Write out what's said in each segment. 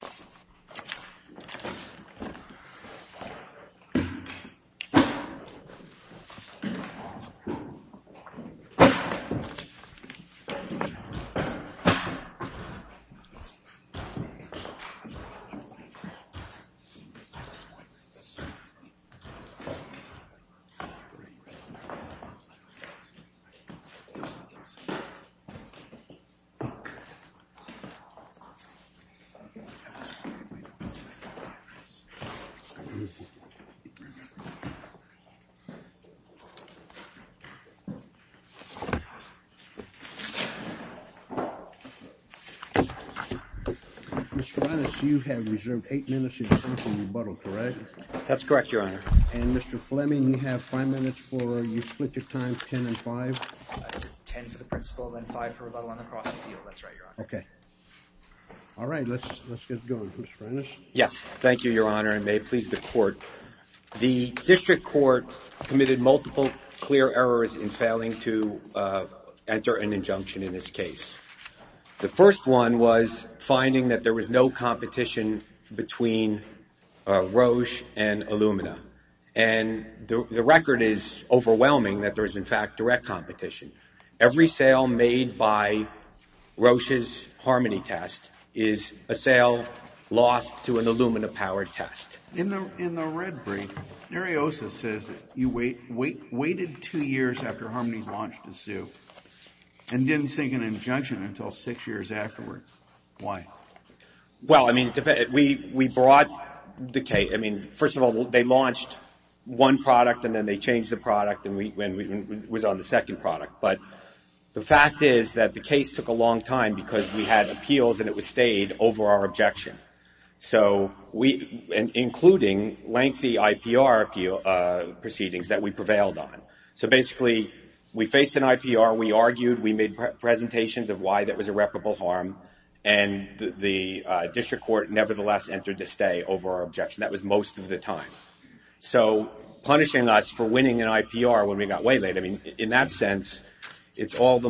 Ariosa Diagnostics, Inc. Mr. Linus, you have reserved 8 minutes in the course of rebuttal, correct? That's correct, Your Honor. And Mr. Fleming, you have 5 minutes for, you split your time, 10 and 5? 10 for the principle and 5 for rebuttal on the cross appeal, that's right, Your Honor. Okay. All right. Let's get going. Mr. Linus. Yes. Thank you, Your Honor, and may it please the Court. The District Court committed multiple clear errors in failing to enter an injunction in this case. The first one was finding that there was no competition between Roche and Illumina. And the record is overwhelming that there is, in fact, direct competition. Every sale made by Roche's Harmony test is a sale lost to an Illumina-powered test. In the red brief, Ariosa says that you waited 2 years after Harmony's launch to sue and didn't sink an injunction until 6 years afterward. Why? Well, I mean, we brought the case, I mean, first of all, they launched one product and then they changed the product and it was on the second product. But the fact is that the case took a long time because we had appeals and it was stayed over our objection, including lengthy IPR proceedings that we prevailed on. So basically, we faced an IPR, we argued, we made presentations of why that was irreparable harm, and the District Court nevertheless entered a stay over our objection. That was most of the time. So punishing us for winning an IPR when we got way late, I mean, in that sense, it's all the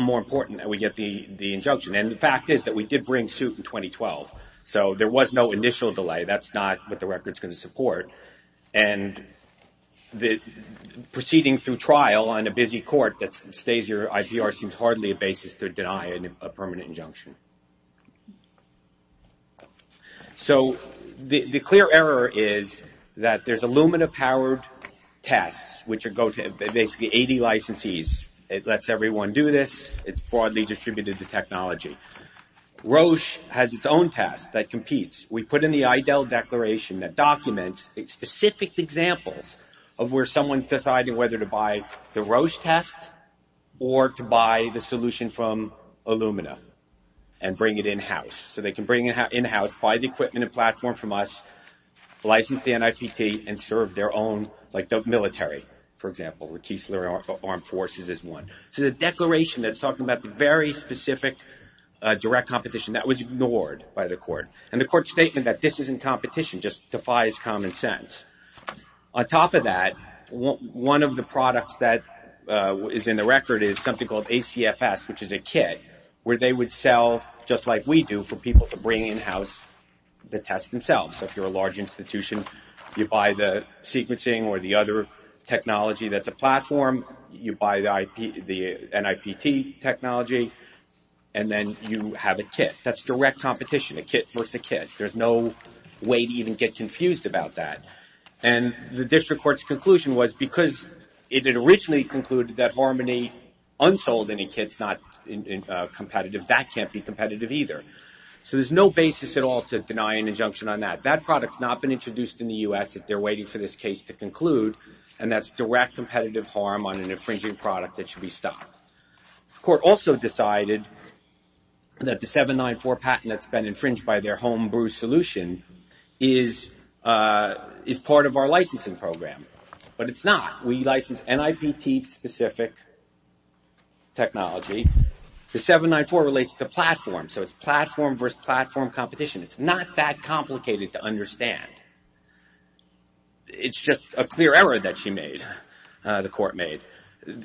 more important that we get the injunction. And the fact is that we did bring suit in 2012, so there was no initial delay. That's not what the record is going to support. And proceeding through trial on a busy court that stays your IPR seems hardly a basis to So the clear error is that there's Illumina-powered tests, which are basically 80 licensees. It lets everyone do this. It's broadly distributed to technology. Roche has its own test that competes. We put in the EIDL declaration that documents specific examples of where someone's deciding whether to buy the Roche test or to buy the solution from Illumina and bring it in-house. So they can bring it in-house, buy the equipment and platform from us, license the NIPT, and serve their own, like the military, for example, where Kiesler Armed Forces is one. So the declaration that's talking about the very specific direct competition, that was ignored by the court. And the court's statement that this isn't competition just defies common sense. On top of that, one of the products that is in the record is something called ACFS, which is a kit where they would sell, just like we do, for people to bring in-house the test themselves. So if you're a large institution, you buy the sequencing or the other technology that's a platform. You buy the NIPT technology. And then you have a kit. That's direct competition, a kit versus a kit. There's no way to even get confused about that. And the district court's conclusion was because it had originally concluded that Harmony unsold and a kit's not competitive, that can't be competitive either. So there's no basis at all to deny an injunction on that. That product's not been introduced in the U.S. They're waiting for this case to conclude. And that's direct competitive harm on an infringing product that should be stopped. The court also decided that the 794 patent that's been infringed by their home brew solution is part of our licensing program. But it's not. We license NIPT-specific technology. The 794 relates to platform. So it's platform versus platform competition. It's not that complicated to understand. It's just a clear error that she made, the court made.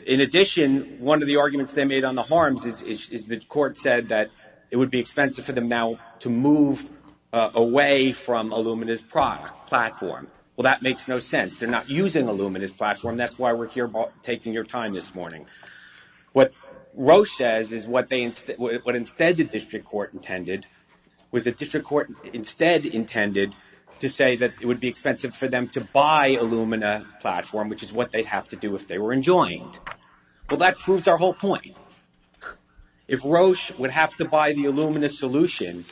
In addition, one of the arguments they made on the harms is the court said that it would be expensive for them now to move away from Illumina's platform. Well, that makes no sense. They're not using Illumina's platform. That's why we're here taking your time this morning. What Roche says is what instead the district court intended was the district court instead intended to say that it would be expensive for them to buy Illumina platform, which is what they'd have to do if they were enjoined. Well, that proves our whole point. If Roche would have to buy the Illumina solution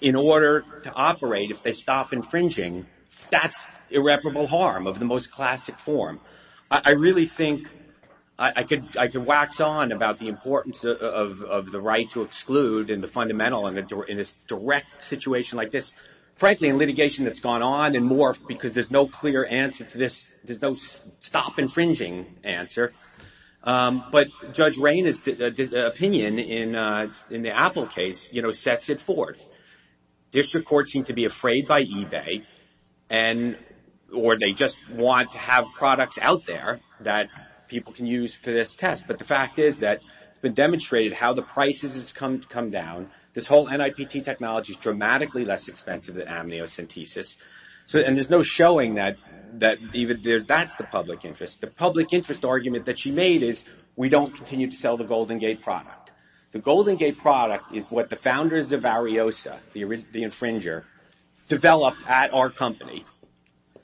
in order to operate if they stop infringing, that's irreparable harm of the most classic form. I really think I could wax on about the importance of the right to exclude and the fundamental in this direct situation like this. Frankly, in litigation that's gone on and more because there's no clear answer to this, there's no stop infringing answer. But Judge Rayne's opinion in the Apple case sets it forth. District courts seem to be afraid by eBay or they just want to have products out there that people can use for this test. But the fact is that it's been demonstrated how the prices has come down. This whole NIPT technology is dramatically less expensive than amniocentesis. And there's no showing that that's the public interest. The public interest argument that she made is we don't continue to sell the Golden Gate product. The Golden Gate product is what the founders of Ariosa, the infringer, developed at our company.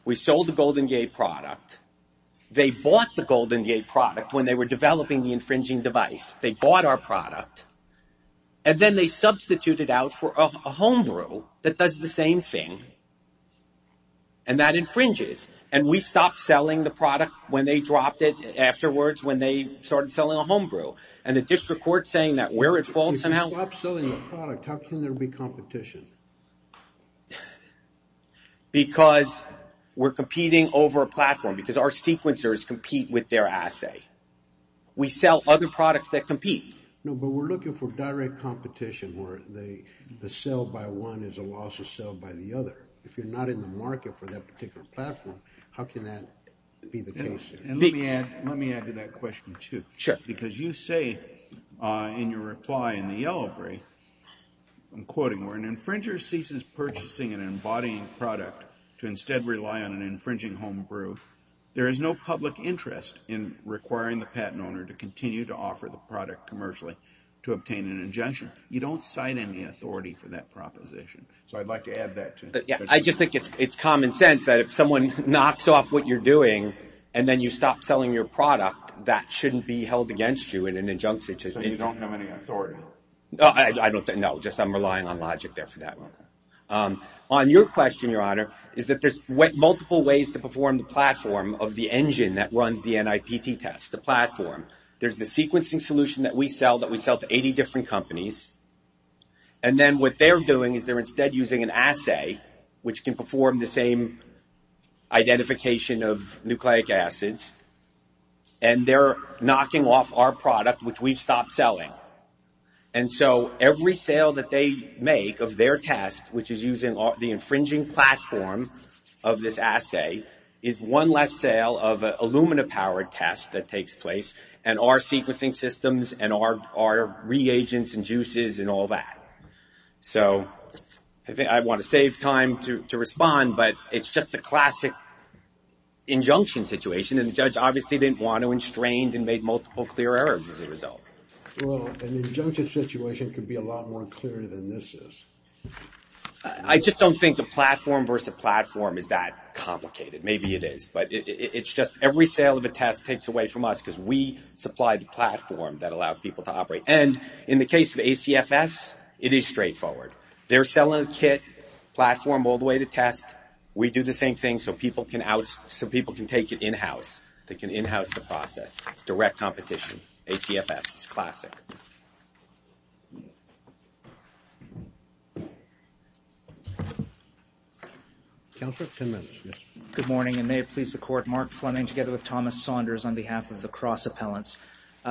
We sold the Golden Gate product. They bought the Golden Gate product when they were developing the infringing device. They bought our product. And then they substituted out for a homebrew that does the same thing. And that infringes. And we stopped selling the product when they dropped it afterwards when they started selling a homebrew. And the district court is saying that where it falls somehow. If you stop selling the product, how can there be competition? Because we're competing over a platform, because our sequencers compete with their assay. We sell other products that compete. No, but we're looking for direct competition where the sale by one is a loss of sale by the other. If you're not in the market for that particular platform, how can that be the case? And let me add to that question, too. Because you say in your reply in the yellow brief, I'm quoting, where an infringer ceases purchasing an embodying product to instead rely on an infringing homebrew, there is no public interest in requiring the patent owner to continue to offer the product commercially to obtain an injunction. You don't cite any authority for that proposition. So I'd like to add that to it. I just think it's common sense that if someone knocks off what you're doing, and then you stop selling your product, that shouldn't be held against you in an injunction. So you don't have any authority? No, just I'm relying on logic there for that one. On your question, Your Honor, is that there's multiple ways to perform the platform of the engine that runs the NIPT test, the platform. There's the sequencing solution that we sell that we sell to 80 different companies. And then what they're doing is they're instead using an assay, which can perform the same identification of nucleic acids. And they're knocking off our product, which we've stopped selling. And so every sale that they make of their test, which is using the infringing platform of this assay, is one less sale of an alumina-powered test that takes place. And our sequencing systems and our reagents and juices and all that. So I want to save time to respond, but it's just the classic injunction situation. And the judge obviously didn't want to, and strained and made multiple clear errors as a result. Well, an injunction situation could be a lot more clear than this is. I just don't think the platform versus platform is that complicated. Maybe it is. But it's just every sale of a test takes away from us because we supply the platform that allows people to operate. And in the case of ACFS, it is straightforward. They're selling a kit, platform, all the way to test. We do the same thing so people can take it in-house. They can in-house the process. ACFS, it's classic. Thank you. Counselor, 10 minutes. Good morning, and may it please the Court. Mark Fleming together with Thomas Saunders on behalf of the cross appellants.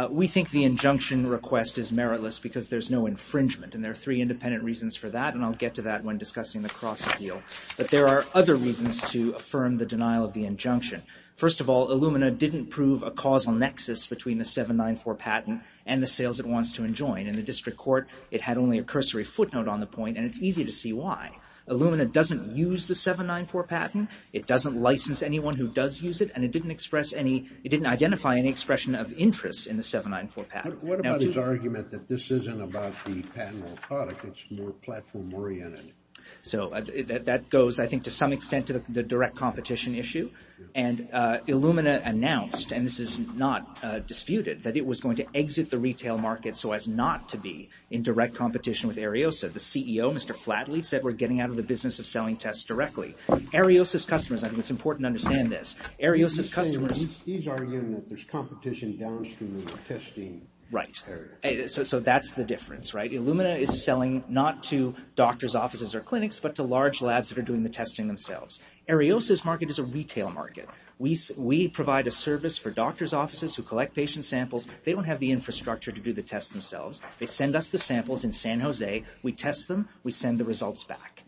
We think the injunction request is meritless because there's no infringement. And there are three independent reasons for that, and I'll get to that when discussing the cross appeal. But there are other reasons to affirm the denial of the injunction. First of all, Illumina didn't prove a causal nexus between the 794 patent and the sales it wants to enjoin. In the district court, it had only a cursory footnote on the point, and it's easy to see why. Illumina doesn't use the 794 patent. It doesn't license anyone who does use it, and it didn't identify any expression of interest in the 794 patent. What about his argument that this isn't about the patentable product? It's more platform oriented? So that goes, I think, to some extent to the direct competition issue. And Illumina announced, and this is not disputed, that it was going to exit the retail market so as not to be in direct competition with Ariosa. The CEO, Mr. Flatley, said we're getting out of the business of selling tests directly. Ariosa's customers, I think it's important to understand this, Ariosa's customers He's arguing that there's competition downstream in the testing area. Right. So that's the difference, right? Illumina is selling not to doctors' offices or clinics, but to large labs that are doing the testing themselves. Ariosa's market is a retail market. We provide a service for doctors' offices who collect patient samples. They don't have the infrastructure to do the tests themselves. They send us the samples in San Jose. We test them. We send the results back.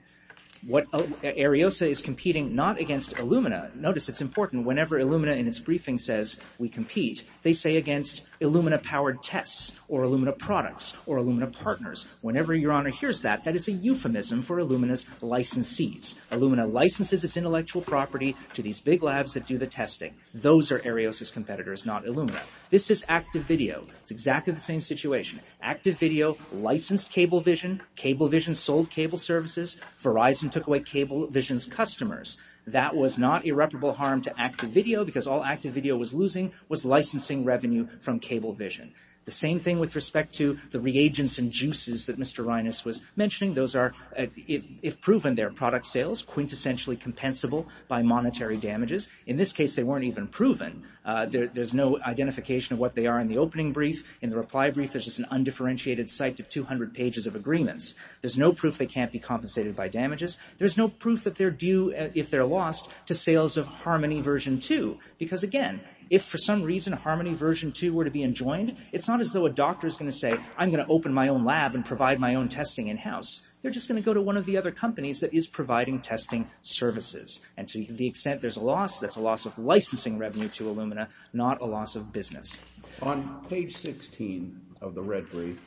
Ariosa is competing not against Illumina. Notice, it's important, whenever Illumina in its briefing says we compete, they say against Illumina-powered tests or Illumina products or Illumina partners. Whenever Your Honor hears that, that is a euphemism for Illumina's licensees. Illumina licenses its intellectual property to these big labs that do the testing. Those are Ariosa's competitors, not Illumina. This is Active Video. It's exactly the same situation. Active Video licensed Cablevision. Cablevision sold cable services. Verizon took away Cablevision's customers. That was not irreparable harm to Active Video because all Active Video was losing was licensing revenue from Cablevision. The same thing with respect to the reagents and juices that Mr. Reines was mentioning. Those are, if proven, they're product sales, quintessentially compensable by monetary damages. In this case, they weren't even proven. There's no identification of what they are in the opening brief. In the reply brief, there's just an undifferentiated site of 200 pages of agreements. There's no proof they can't be compensated by damages. There's no proof that they're due, if they're lost, to sales of Harmony version 2 because, again, if for some reason Harmony version 2 were to be enjoined, it's not as though a doctor is going to say, I'm going to open my own lab and provide my own testing in-house. They're just going to go to one of the other companies that is providing testing services. And to the extent there's a loss, that's a loss of licensing revenue to Illumina, not a loss of business. On page 16 of the red brief,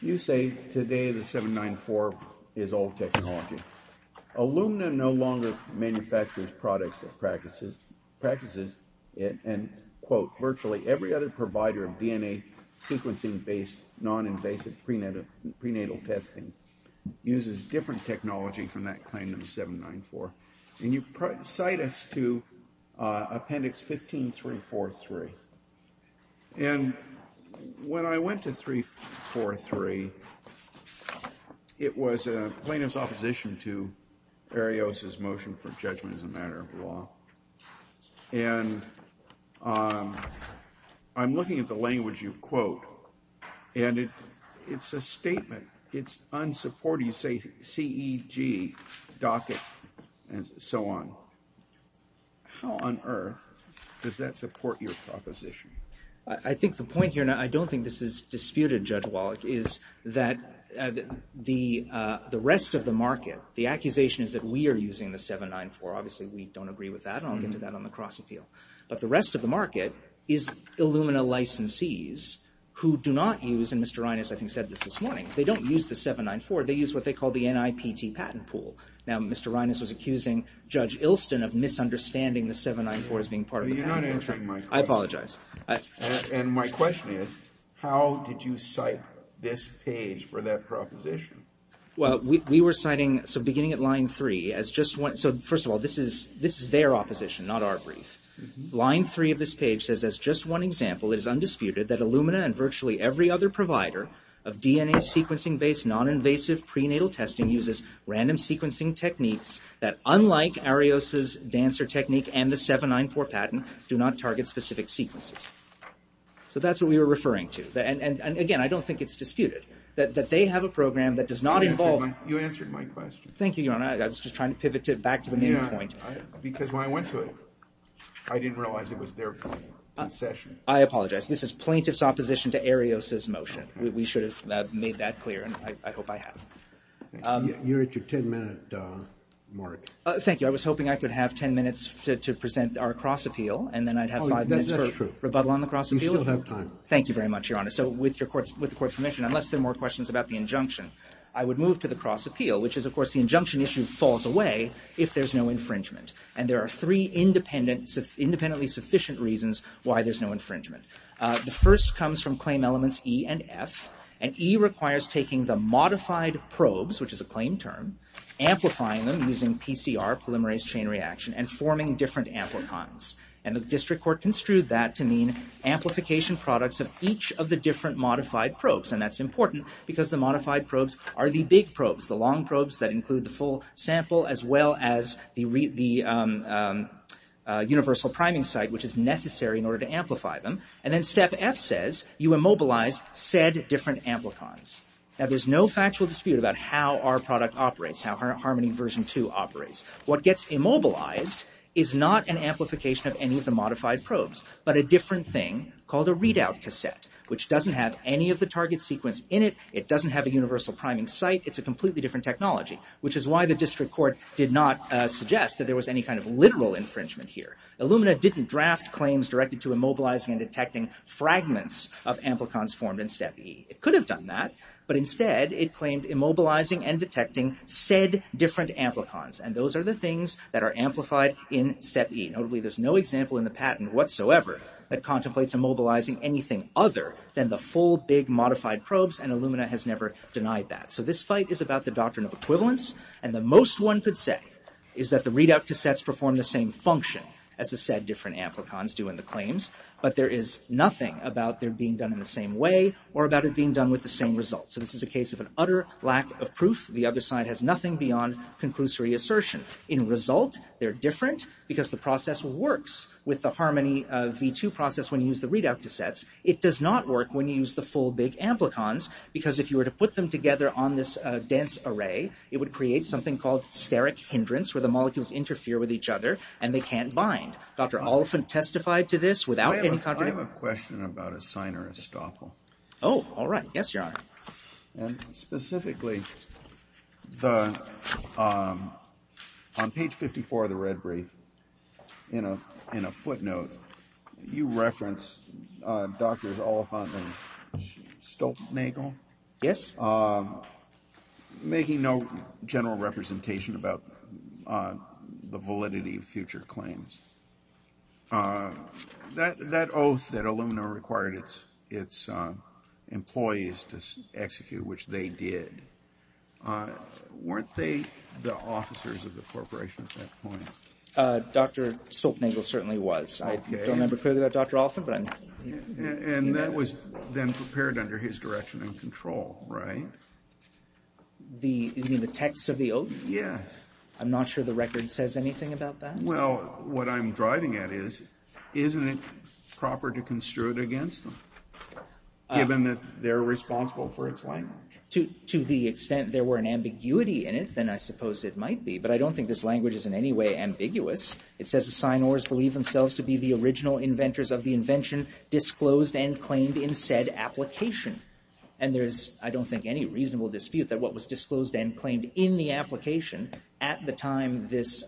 you say, today the 794 is old technology. Illumina no longer manufactures products and practices, and, quote, virtually every other provider of DNA sequencing-based non-invasive prenatal testing uses different technology from that kind of 794. And you cite us to appendix 15343. And when I went to 343, it was a plaintiff's opposition to Arios' motion for judgment as a matter of law. And I'm looking at the language you quote, and it's a statement. It's unsupportive. You say CEG, docket, and so on. How on earth does that support your proposition? I think the point here, and I don't think this is disputed, Judge Wallach, is that the rest of the market, the accusation is that we are using the 794. Obviously, we don't agree with that. I'll get to that on the cross appeal. But the rest of the market is Illumina licensees who do not use, and Mr. Reines, I think, said this this morning. They don't use the 794. They use what they call the NIPT patent pool. Now, Mr. Reines was accusing Judge Ilston of misunderstanding the 794 as being part of the patent pool. You're not answering my question. I apologize. And my question is, how did you cite this page for that proposition? Well, we were citing, so beginning at line three, so first of all, this is their opposition, not our brief. Line three of this page says, As just one example, it is undisputed that Illumina and virtually every other provider of DNA sequencing-based noninvasive prenatal testing uses random sequencing techniques that, unlike Arios's dancer technique and the 794 patent, do not target specific sequences. So that's what we were referring to. And, again, I don't think it's disputed that they have a program that does not involve You answered my question. Thank you, Your Honor. I was just trying to pivot back to the main point. Because when I went to it, I didn't realize it was their point in session. I apologize. This is plaintiff's opposition to Arios's motion. We should have made that clear, and I hope I have. You're at your 10-minute mark. Thank you. I was hoping I could have 10 minutes to present our cross-appeal, and then I'd have five minutes for rebuttal on the cross-appeal. You still have time. So with the Court's permission, unless there are more questions about the injunction, I would move to the cross-appeal, which is, of course, the injunction issue falls away if there's no infringement. And there are three independently sufficient reasons why there's no infringement. The first comes from claim elements E and F. And E requires taking the modified probes, which is a claim term, amplifying them using PCR, polymerase chain reaction, and forming different amplicons. And the district court construed that to mean amplification products of each of the different modified probes. And that's important because the modified probes are the big probes, the long probes that include the full sample, as well as the universal priming site, which is necessary in order to amplify them. And then step F says you immobilize said different amplicons. Now, there's no factual dispute about how our product operates, how Harmony version 2 operates. What gets immobilized is not an amplification of any of the modified probes, but a different thing called a readout cassette, which doesn't have any of the target sequence in it. It doesn't have a universal priming site. It's a completely different technology, which is why the district court did not suggest that there was any kind of literal infringement here. Illumina didn't draft claims directed to immobilizing and detecting fragments of amplicons formed in step E. It could have done that, but instead, it claimed immobilizing and detecting said different amplicons. And those are the things that are amplified in step E. Notably, there's no example in the patent whatsoever that contemplates immobilizing anything other than the full, big modified probes, and Illumina has never denied that. So this fight is about the doctrine of equivalence, and the most one could say is that the readout cassettes perform the same function as the said different amplicons do in the claims, but there is nothing about their being done in the same way or about it being done with the same result. So this is a case of an utter lack of proof. The other side has nothing beyond conclusory assertion. In result, they're different because the process works with the Harmony V2 process when you use the readout cassettes. It does not work when you use the full, big amplicons because if you were to put them together on this dense array, it would create something called steric hindrance where the molecules interfere with each other, and they can't bind. Dr. Oliphant testified to this without any contradiction. I have a question about a signer estoppel. Oh, all right. Yes, Your Honor. Specifically, on page 54 of the red brief, in a footnote, you reference Drs. Oliphant and Stoltenagle... Yes. ...making no general representation about the validity of future claims. That oath that Illumina required its employees to execute, which they did, weren't they the officers of the corporation at that point? Dr. Stoltenagle certainly was. Okay. I don't remember clearly about Dr. Oliphant, but I'm... And that was then prepared under his direction and control, right? You mean the text of the oath? Yes. I'm not sure the record says anything about that. Well, what I'm driving at is, isn't it proper to construe it against them given that they're responsible for its language? To the extent there were an ambiguity in it, then I suppose it might be. But I don't think this language is in any way ambiguous. It says the signers believe themselves to be the original inventors of the invention disclosed and claimed in said application. And there's, I don't think, any reasonable dispute that what was disclosed and claimed in the application at the time this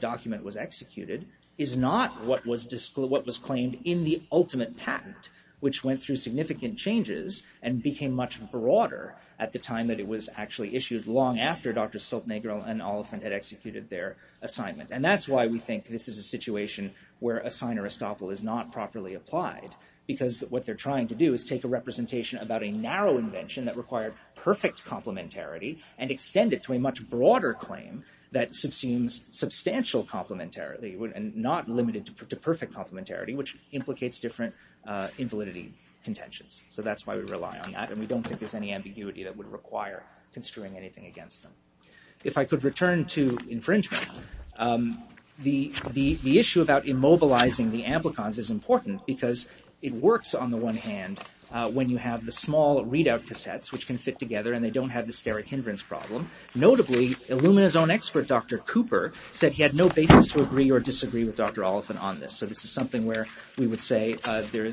document was executed is not what was claimed in the ultimate patent, which went through significant changes and became much broader at the time that it was actually issued long after Dr. Stoltenagle and Oliphant had executed their assignment. And that's why we think this is a situation where a signer estoppel is not properly applied, because what they're trying to do is take a representation about a narrow invention that required perfect complementarity and extend it to a much broader claim that seems substantial complementarily and not limited to perfect complementarity, which implicates different invalidity contentions. So that's why we rely on that. And we don't think there's any ambiguity that would require construing anything against them. If I could return to infringement, the issue about immobilizing the amplicons is important because it works on the one hand when you have the small readout cassettes which can fit together and they don't have the steric hindrance problem. Notably, Illumina's own expert, Dr. Cooper, said he had no basis to agree or disagree with Dr. Oliphant on this. So this is something where we would say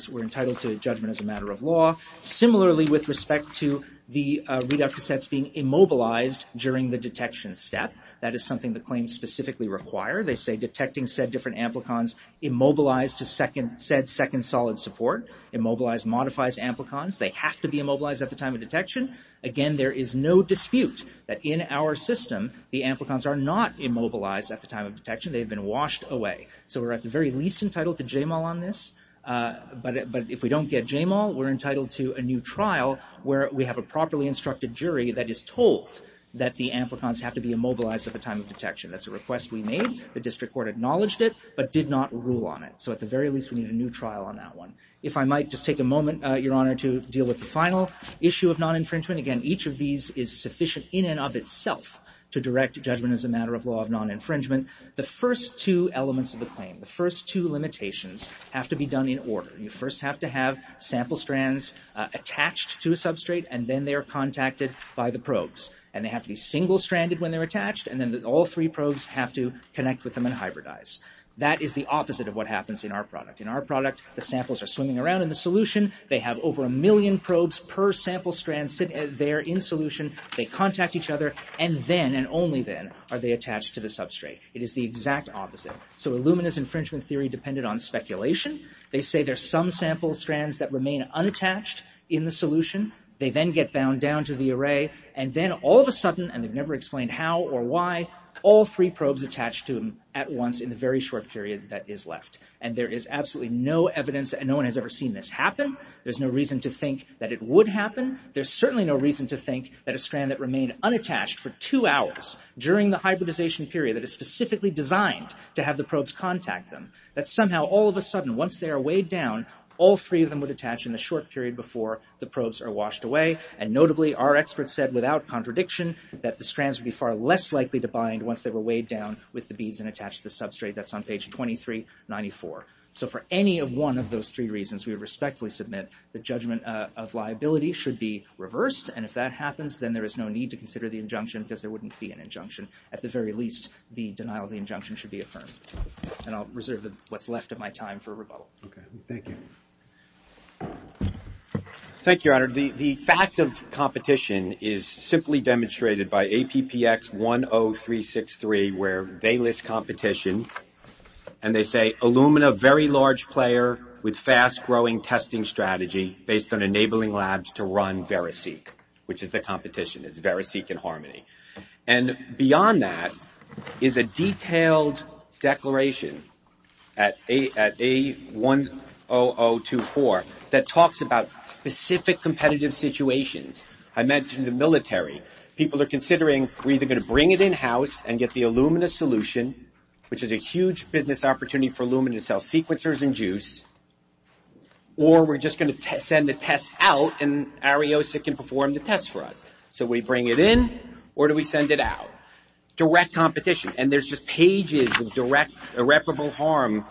we're entitled to judgment as a matter of law. Similarly, with respect to the readout cassettes being immobilized during the detection step, that is something the claims specifically require. They say detecting said different amplicons immobilized to said second solid support. Immobilized modifies amplicons. They have to be immobilized at the time of detection. Again, there is no dispute that in our system the amplicons are not immobilized at the time of detection. They've been washed away. So we're at the very least entitled to JMAL on this. But if we don't get JMAL, we're entitled to a new trial where we have a properly instructed jury that is told that the amplicons have to be immobilized at the time of detection. That's a request we made. The district court acknowledged it, but did not rule on it. So at the very least, we need a new trial on that one. If I might just take a moment, Your Honor, to deal with the final issue of non-infringement. Again, each of these is sufficient in and of itself to direct judgment as a matter of law of non-infringement. The first two elements of the claim, the first two limitations, have to be done in order. You first have to have sample strands attached to a substrate, and then they are contacted by the probes. And they have to be single-stranded when they're attached, and then all three probes have to connect with them and hybridize. That is the opposite of what happens in our product. In our product, the samples are swimming around in the solution. They have over a million probes per sample strand sitting there in solution. They contact each other, and then, and only then, are they attached to the substrate. It is the exact opposite. So Illumina's infringement theory depended on speculation. They say there's some sample strands that remain unattached in the solution. They then get bound down to the array, and then all of a sudden, and they've never explained how or why, all three probes attach to them at once in the very short period that is left. And there is absolutely no evidence, There's no reason to think that it would happen. There's certainly no reason to think that a strand that remained unattached for two hours during the hybridization period that is specifically designed to have the probes contact them, that somehow, all of a sudden, once they are weighed down, all three of them would attach in the short period before the probes are washed away. And notably, our experts said without contradiction that the strands would be far less likely to bind once they were weighed down with the beads and attached to the substrate. That's on page 2394. So for any of one of those three reasons, we would respectfully submit the judgment of liability should be reversed, and if that happens, then there is no need to consider the injunction because there wouldn't be an injunction. At the very least, the denial of the injunction should be affirmed. And I'll reserve what's left of my time for rebuttal. Okay. Thank you. Thank you, Your Honor. The fact of competition is simply demonstrated by APPX 10363 where they list competition, and they say, Illumina, very large player with fast-growing testing strategy based on enabling labs to run VeriSeq, which is the competition. It's VeriSeq and Harmony. And beyond that is a detailed declaration at A10024 that talks about specific competitive situations. I mentioned the military. People are considering we're either going to bring it in-house and get the Illumina solution, which is a huge business opportunity for Illumina to sell sequencers and juice, or we're just going to send the test out and Ariosa can perform the test for us. So we bring it in, or do we send it out? Direct competition. And there's just pages of direct irreparable harm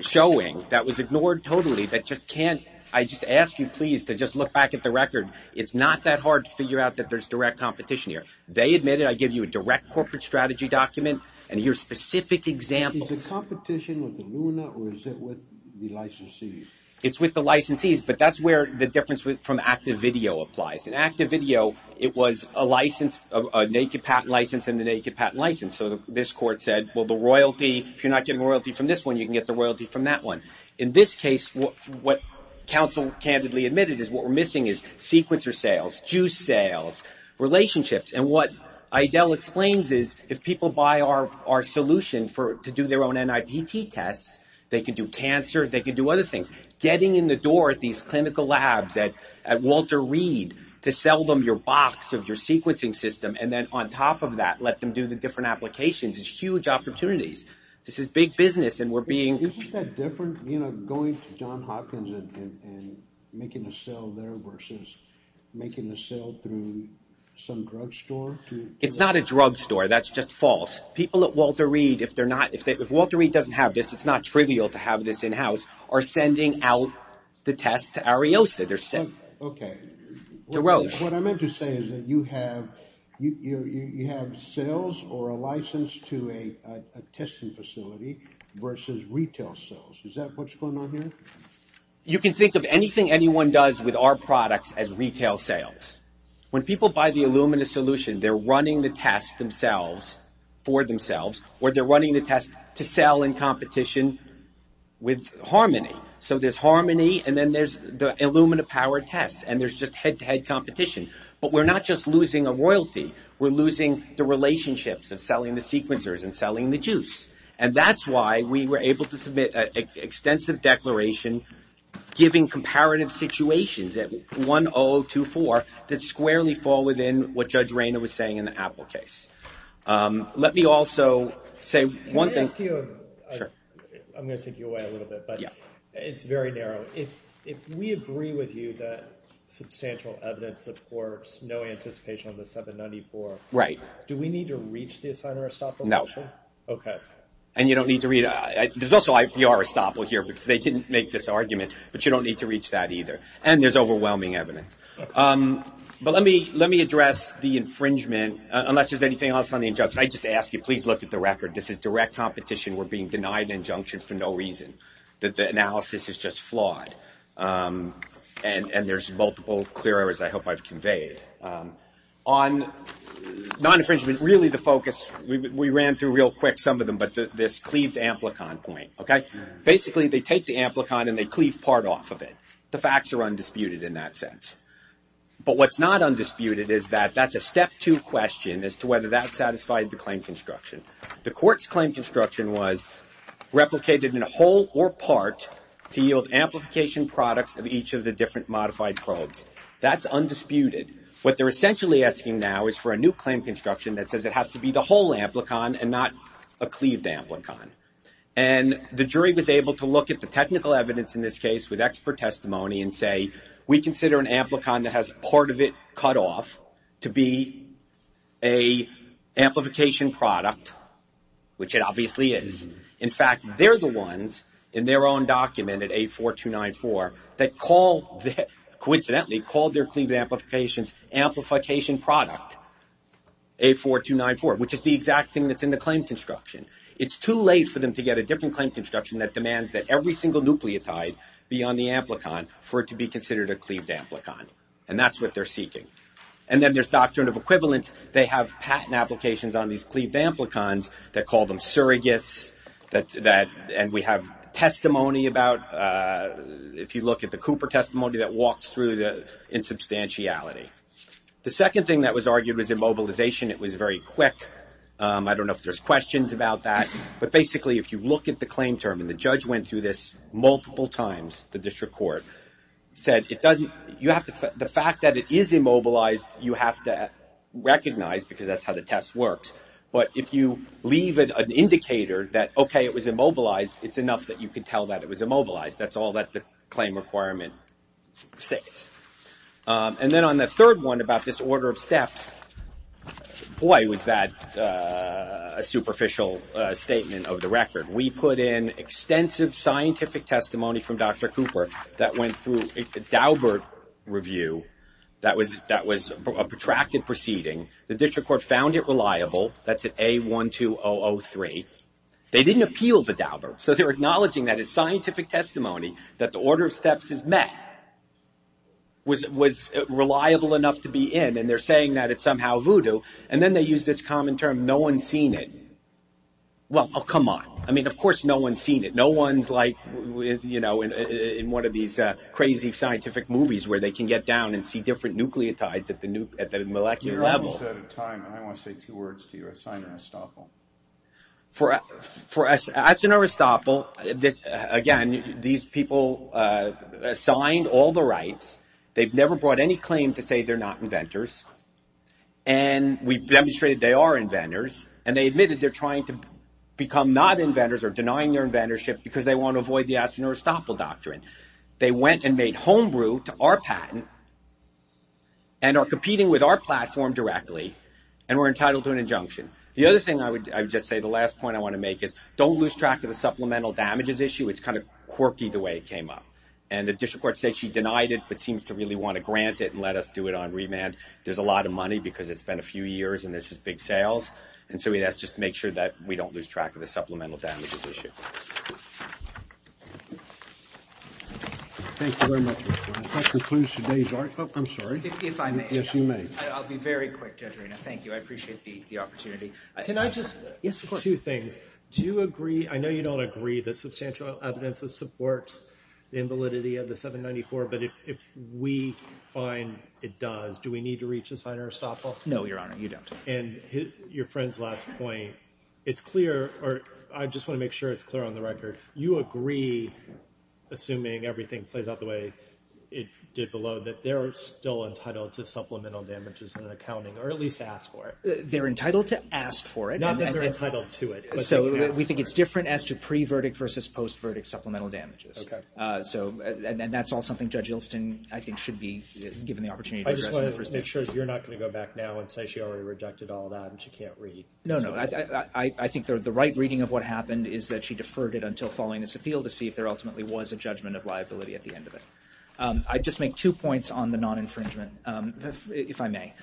showing that was ignored totally that just can't... I just ask you, please, to just look back at the record. It's not that hard to figure out that there's direct competition here. They admit it. I give you a direct corporate strategy document and here's specific examples. Is it competition with Illumina or is it with the licensees? It's with the licensees, but that's where the difference from active video applies. In active video, it was a license, a naked patent license and a naked patent license. So this court said, well, the royalty, if you're not getting royalty from this one, you can get the royalty from that one. In this case, what counsel candidly admitted is what we're missing is sequencer sales, juice sales, relationships. And what Eidel explains is if people buy our solution to do their own NIPT tests, they can do cancer, they can do other things. Getting in the door at these clinical labs at Walter Reed to sell them your box of your sequencing system and then on top of that let them do the different applications is huge opportunities. This is big business and we're being... Isn't that different, you know, going to John Hopkins and making a sale there versus making a sale through some drugstore? It's not a drugstore. That's just false. People at Walter Reed, if they're not, if Walter Reed doesn't have this, it's not trivial to have this in-house, are sending out the test to Ariosa. They're sending... Okay. To Roche. What I meant to say is that you have sales or a license to a testing facility versus retail sales. Is that what's going on here? You can think of anything anyone does with our products as retail sales. When people buy the Illumina solution, they're running the test themselves, for themselves, or they're running the test to sell in competition with Harmony. So there's Harmony and then there's the Illumina-powered test, and there's just head-to-head competition. But we're not just losing a royalty. We're losing the relationships of selling the sequencers and selling the juice. And that's why we were able to submit an extensive declaration giving comparative situations at 10024 that squarely fall within what Judge Rayner was saying in the Apple case. Let me also say one thing. I'm going to take you away a little bit, but it's very narrow. If we agree with you that substantial evidence supports no anticipation on the 794, do we need to reach the Assigner-Estoppel? No. Okay. And you don't need to reach... There's also IPR-Estoppel here because they didn't make this argument, but you don't need to reach that either. And there's overwhelming evidence. But let me address the infringement, unless there's anything else on the injunction. I just ask you, please look at the record. This is direct competition. We're being denied an injunction for no reason. The analysis is just flawed. And there's multiple clear errors I hope I've conveyed. On non-infringement, really the focus, we ran through real quick some of them, but this cleaved amplicon point, okay? Basically, they take the amplicon and they cleave part off of it. The facts are undisputed in that sense. But what's not undisputed is that that's a step two question as to whether that satisfied the claim construction. The court's claim construction was replicated in a whole or part to yield amplification products of each of the different modified probes. That's undisputed. What they're essentially asking now is for a new claim construction that says it has to be the whole amplicon and not a cleaved amplicon. And the jury was able to look at the technical evidence in this case with expert testimony and say, we consider an amplicon that has part of it cut off to be a amplification product, which it obviously is. In fact, they're the ones in their own document at A4294 that coincidentally called their cleaved amplifications amplification product, A4294, which is the exact thing that's in the claim construction. It's too late for them to get a different claim construction that demands that every single nucleotide be on the amplicon for it to be considered a cleaved amplicon. And that's what they're seeking. And then there's doctrine of equivalence. They have patent applications on these cleaved amplicons that call them surrogates and we have testimony about, if you look at the Cooper testimony, that walks through the insubstantiality. The second thing that was argued was immobilization. It was very quick. I don't know if there's questions about that, but basically, if you look at the claim term, and the judge went through this multiple times, the district court, said, you have to, the fact that it is immobile you have to recognize because that's how the test works. But if you leave it an indicator that, okay, it was immobilized, it's enough that you can tell that it was immobilized. That's all that the claim requirement states. And then on the third one about this order of steps, boy, was that a superficial statement of the record. We put in extensive scientific testimony from Dr. Cooper that went through a Daubert review that was a protracted proceeding. The district court found it reliable. That's at A12003. They didn't appeal the Daubert. So they're acknowledging that as scientific testimony that the order of steps is met was reliable enough to be in and they're saying that it's somehow voodoo. And then they use this common term, no one's seen it. Well, oh, come on. I mean, of course, no one's seen it. No one's like, you know, in one of these crazy scientific movies where they can get down and see different nucleotides at the molecular level. You're almost out of time. I want to say two words to you. Assign a restopel. For us, assign a restopel, again, these people assigned all the rights. They've never brought any claim to say they're not inventors. And we demonstrated they are inventors. And they admitted they're trying to become not inventors or denying their inventorship because they want to avoid the assign a restopel doctrine. They went and made homebrew to our patent and are competing with our platform directly and were entitled to an injunction. The other thing I would just say, the last point I want to make is don't lose track of the supplemental damages issue. It's kind of quirky the way it came up. And the district court said she denied it but seems to really want to grant it and let us do it on remand. There's a lot of money because it's been a few years and this is big sales. And so we just have to make sure that we don't lose track of the supplemental damages issue. Thank you very much. That concludes today's article. I'm sorry. If I may. Yes, you may. I'll be very quick. Thank you. I appreciate the opportunity. Can I just, two things. Do you agree, I know you don't agree that substantial evidence supports the invalidity of the 794 but if we find it does, do we need to reach assign a restopel? No, Your Honor, you don't. And your friend's last point, it's clear or I just want to make sure it's clear on the record. You agree, assuming everything plays out the way it did below, that they're still entitled to supplemental damages and accounting or at least ask for it. They're entitled to ask for it. Not that they're entitled to it. So we think it's different as to pre-verdict versus post-verdict supplemental damages. Okay. And that's all something Judge Ilston, I think, should be given the opportunity to address. I just want to make sure you're not going to go back now and say she already rejected all that and she can't read. No, no. I think the right reading of what happened is that she deferred it until following this appeal to see if there ultimately was a judgment of liability at the end of it. I'd just make two points on the non-infringement, if I may.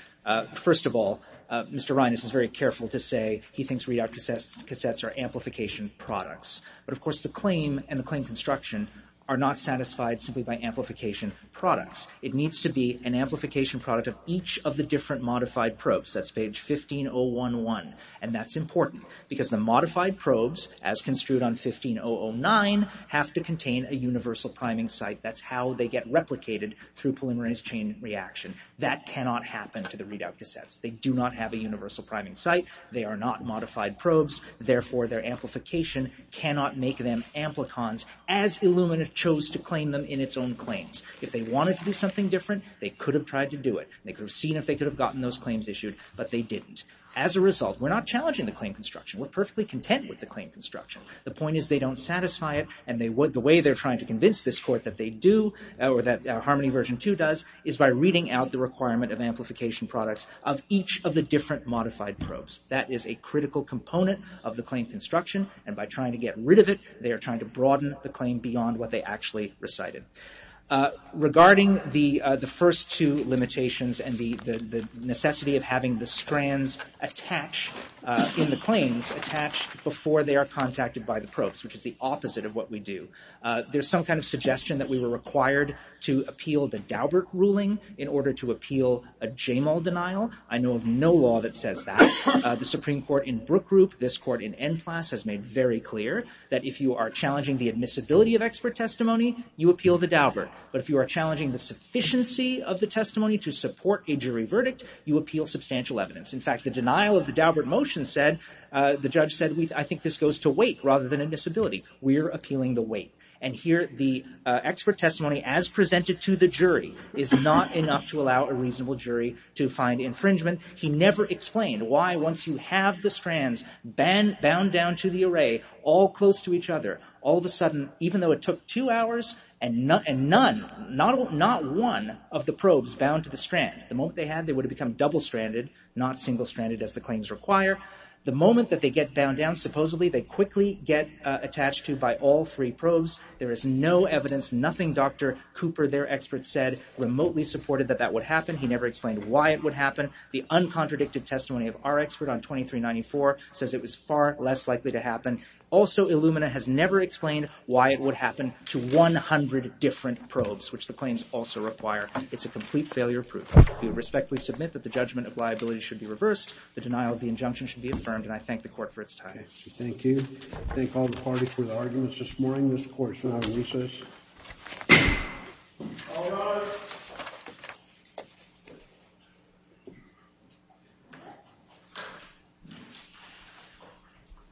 First of all, Mr. Reines is very careful to say he thinks readout cassettes are amplification products. But of course the claim and the claim construction are not satisfied simply by amplification products. It needs to be an amplification product of each of the different modified probes. That's page 15011. And that's important because the modified probes, as construed on 15009, have to contain a universal priming site. That's how they get replicated through polymerase chain reaction. That cannot happen to the readout cassettes. They do not have a universal priming site. They are not modified probes. Therefore, their amplification cannot make them amplicons as Illumina chose to claim them in its own claims. If they wanted to do something different, they could have tried to do it. They could have seen if they could have gotten those claims issued, but they didn't. As a result, we're not challenging the claim construction. We're perfectly content with the claim construction. The point is, they don't satisfy it and the way they're trying to convince this court that they do, or that Harmony Version 2 does, is by reading out the requirement of amplification products of each of the different modified probes. That is a critical component of the claim construction and by trying to get rid of it, they are trying to broaden the claim beyond what they actually recited. Regarding the first two limitations and the necessity of having the strands in the claims attached before they are contacted by the probes, which is the opposite of what we do, there's some kind of suggestion that we were required to appeal the Daubert ruling in order to appeal a Jamal denial. I know of no law that says that. The Supreme Court in Brook Group, this court in Endclass, has made very clear that if you are challenging the admissibility of expert testimony, you appeal the Daubert, but if you are challenging the sufficiency of the testimony to support a jury verdict, you appeal substantial evidence. In fact, the denial of the Daubert motion said, the judge said, I think this goes to weight rather than admissibility. We are appealing the weight. And here, the expert testimony as presented to the jury is not enough to allow a reasonable jury to find infringement. He never explained why once you have the strands bound down to the array all close to each other, all of a sudden, even though it took two hours and none, not one of the probes bound to the strand, the moment they had, they would have become double-stranded, not single-stranded as the claims require. The moment that they get bound down, supposedly they quickly get attached to by all three probes. There is no evidence, nothing Dr. Cooper, their expert said, remotely supported that that would happen. He never explained why it would happen. The uncontradicted testimony of our expert on 2394 says it was far less likely to happen. Also, Illumina has never explained why it would happen to 100 different probes, which the claims also require. It's a complete failure proof. We respectfully submit that the judgment of liability should be reversed. The denial of the injunction should be affirmed, and I thank the court for its time. Thank you. I thank all the party for their arguments this morning. This court is now in recess. All rise.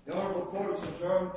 The Honorable Court has adjourned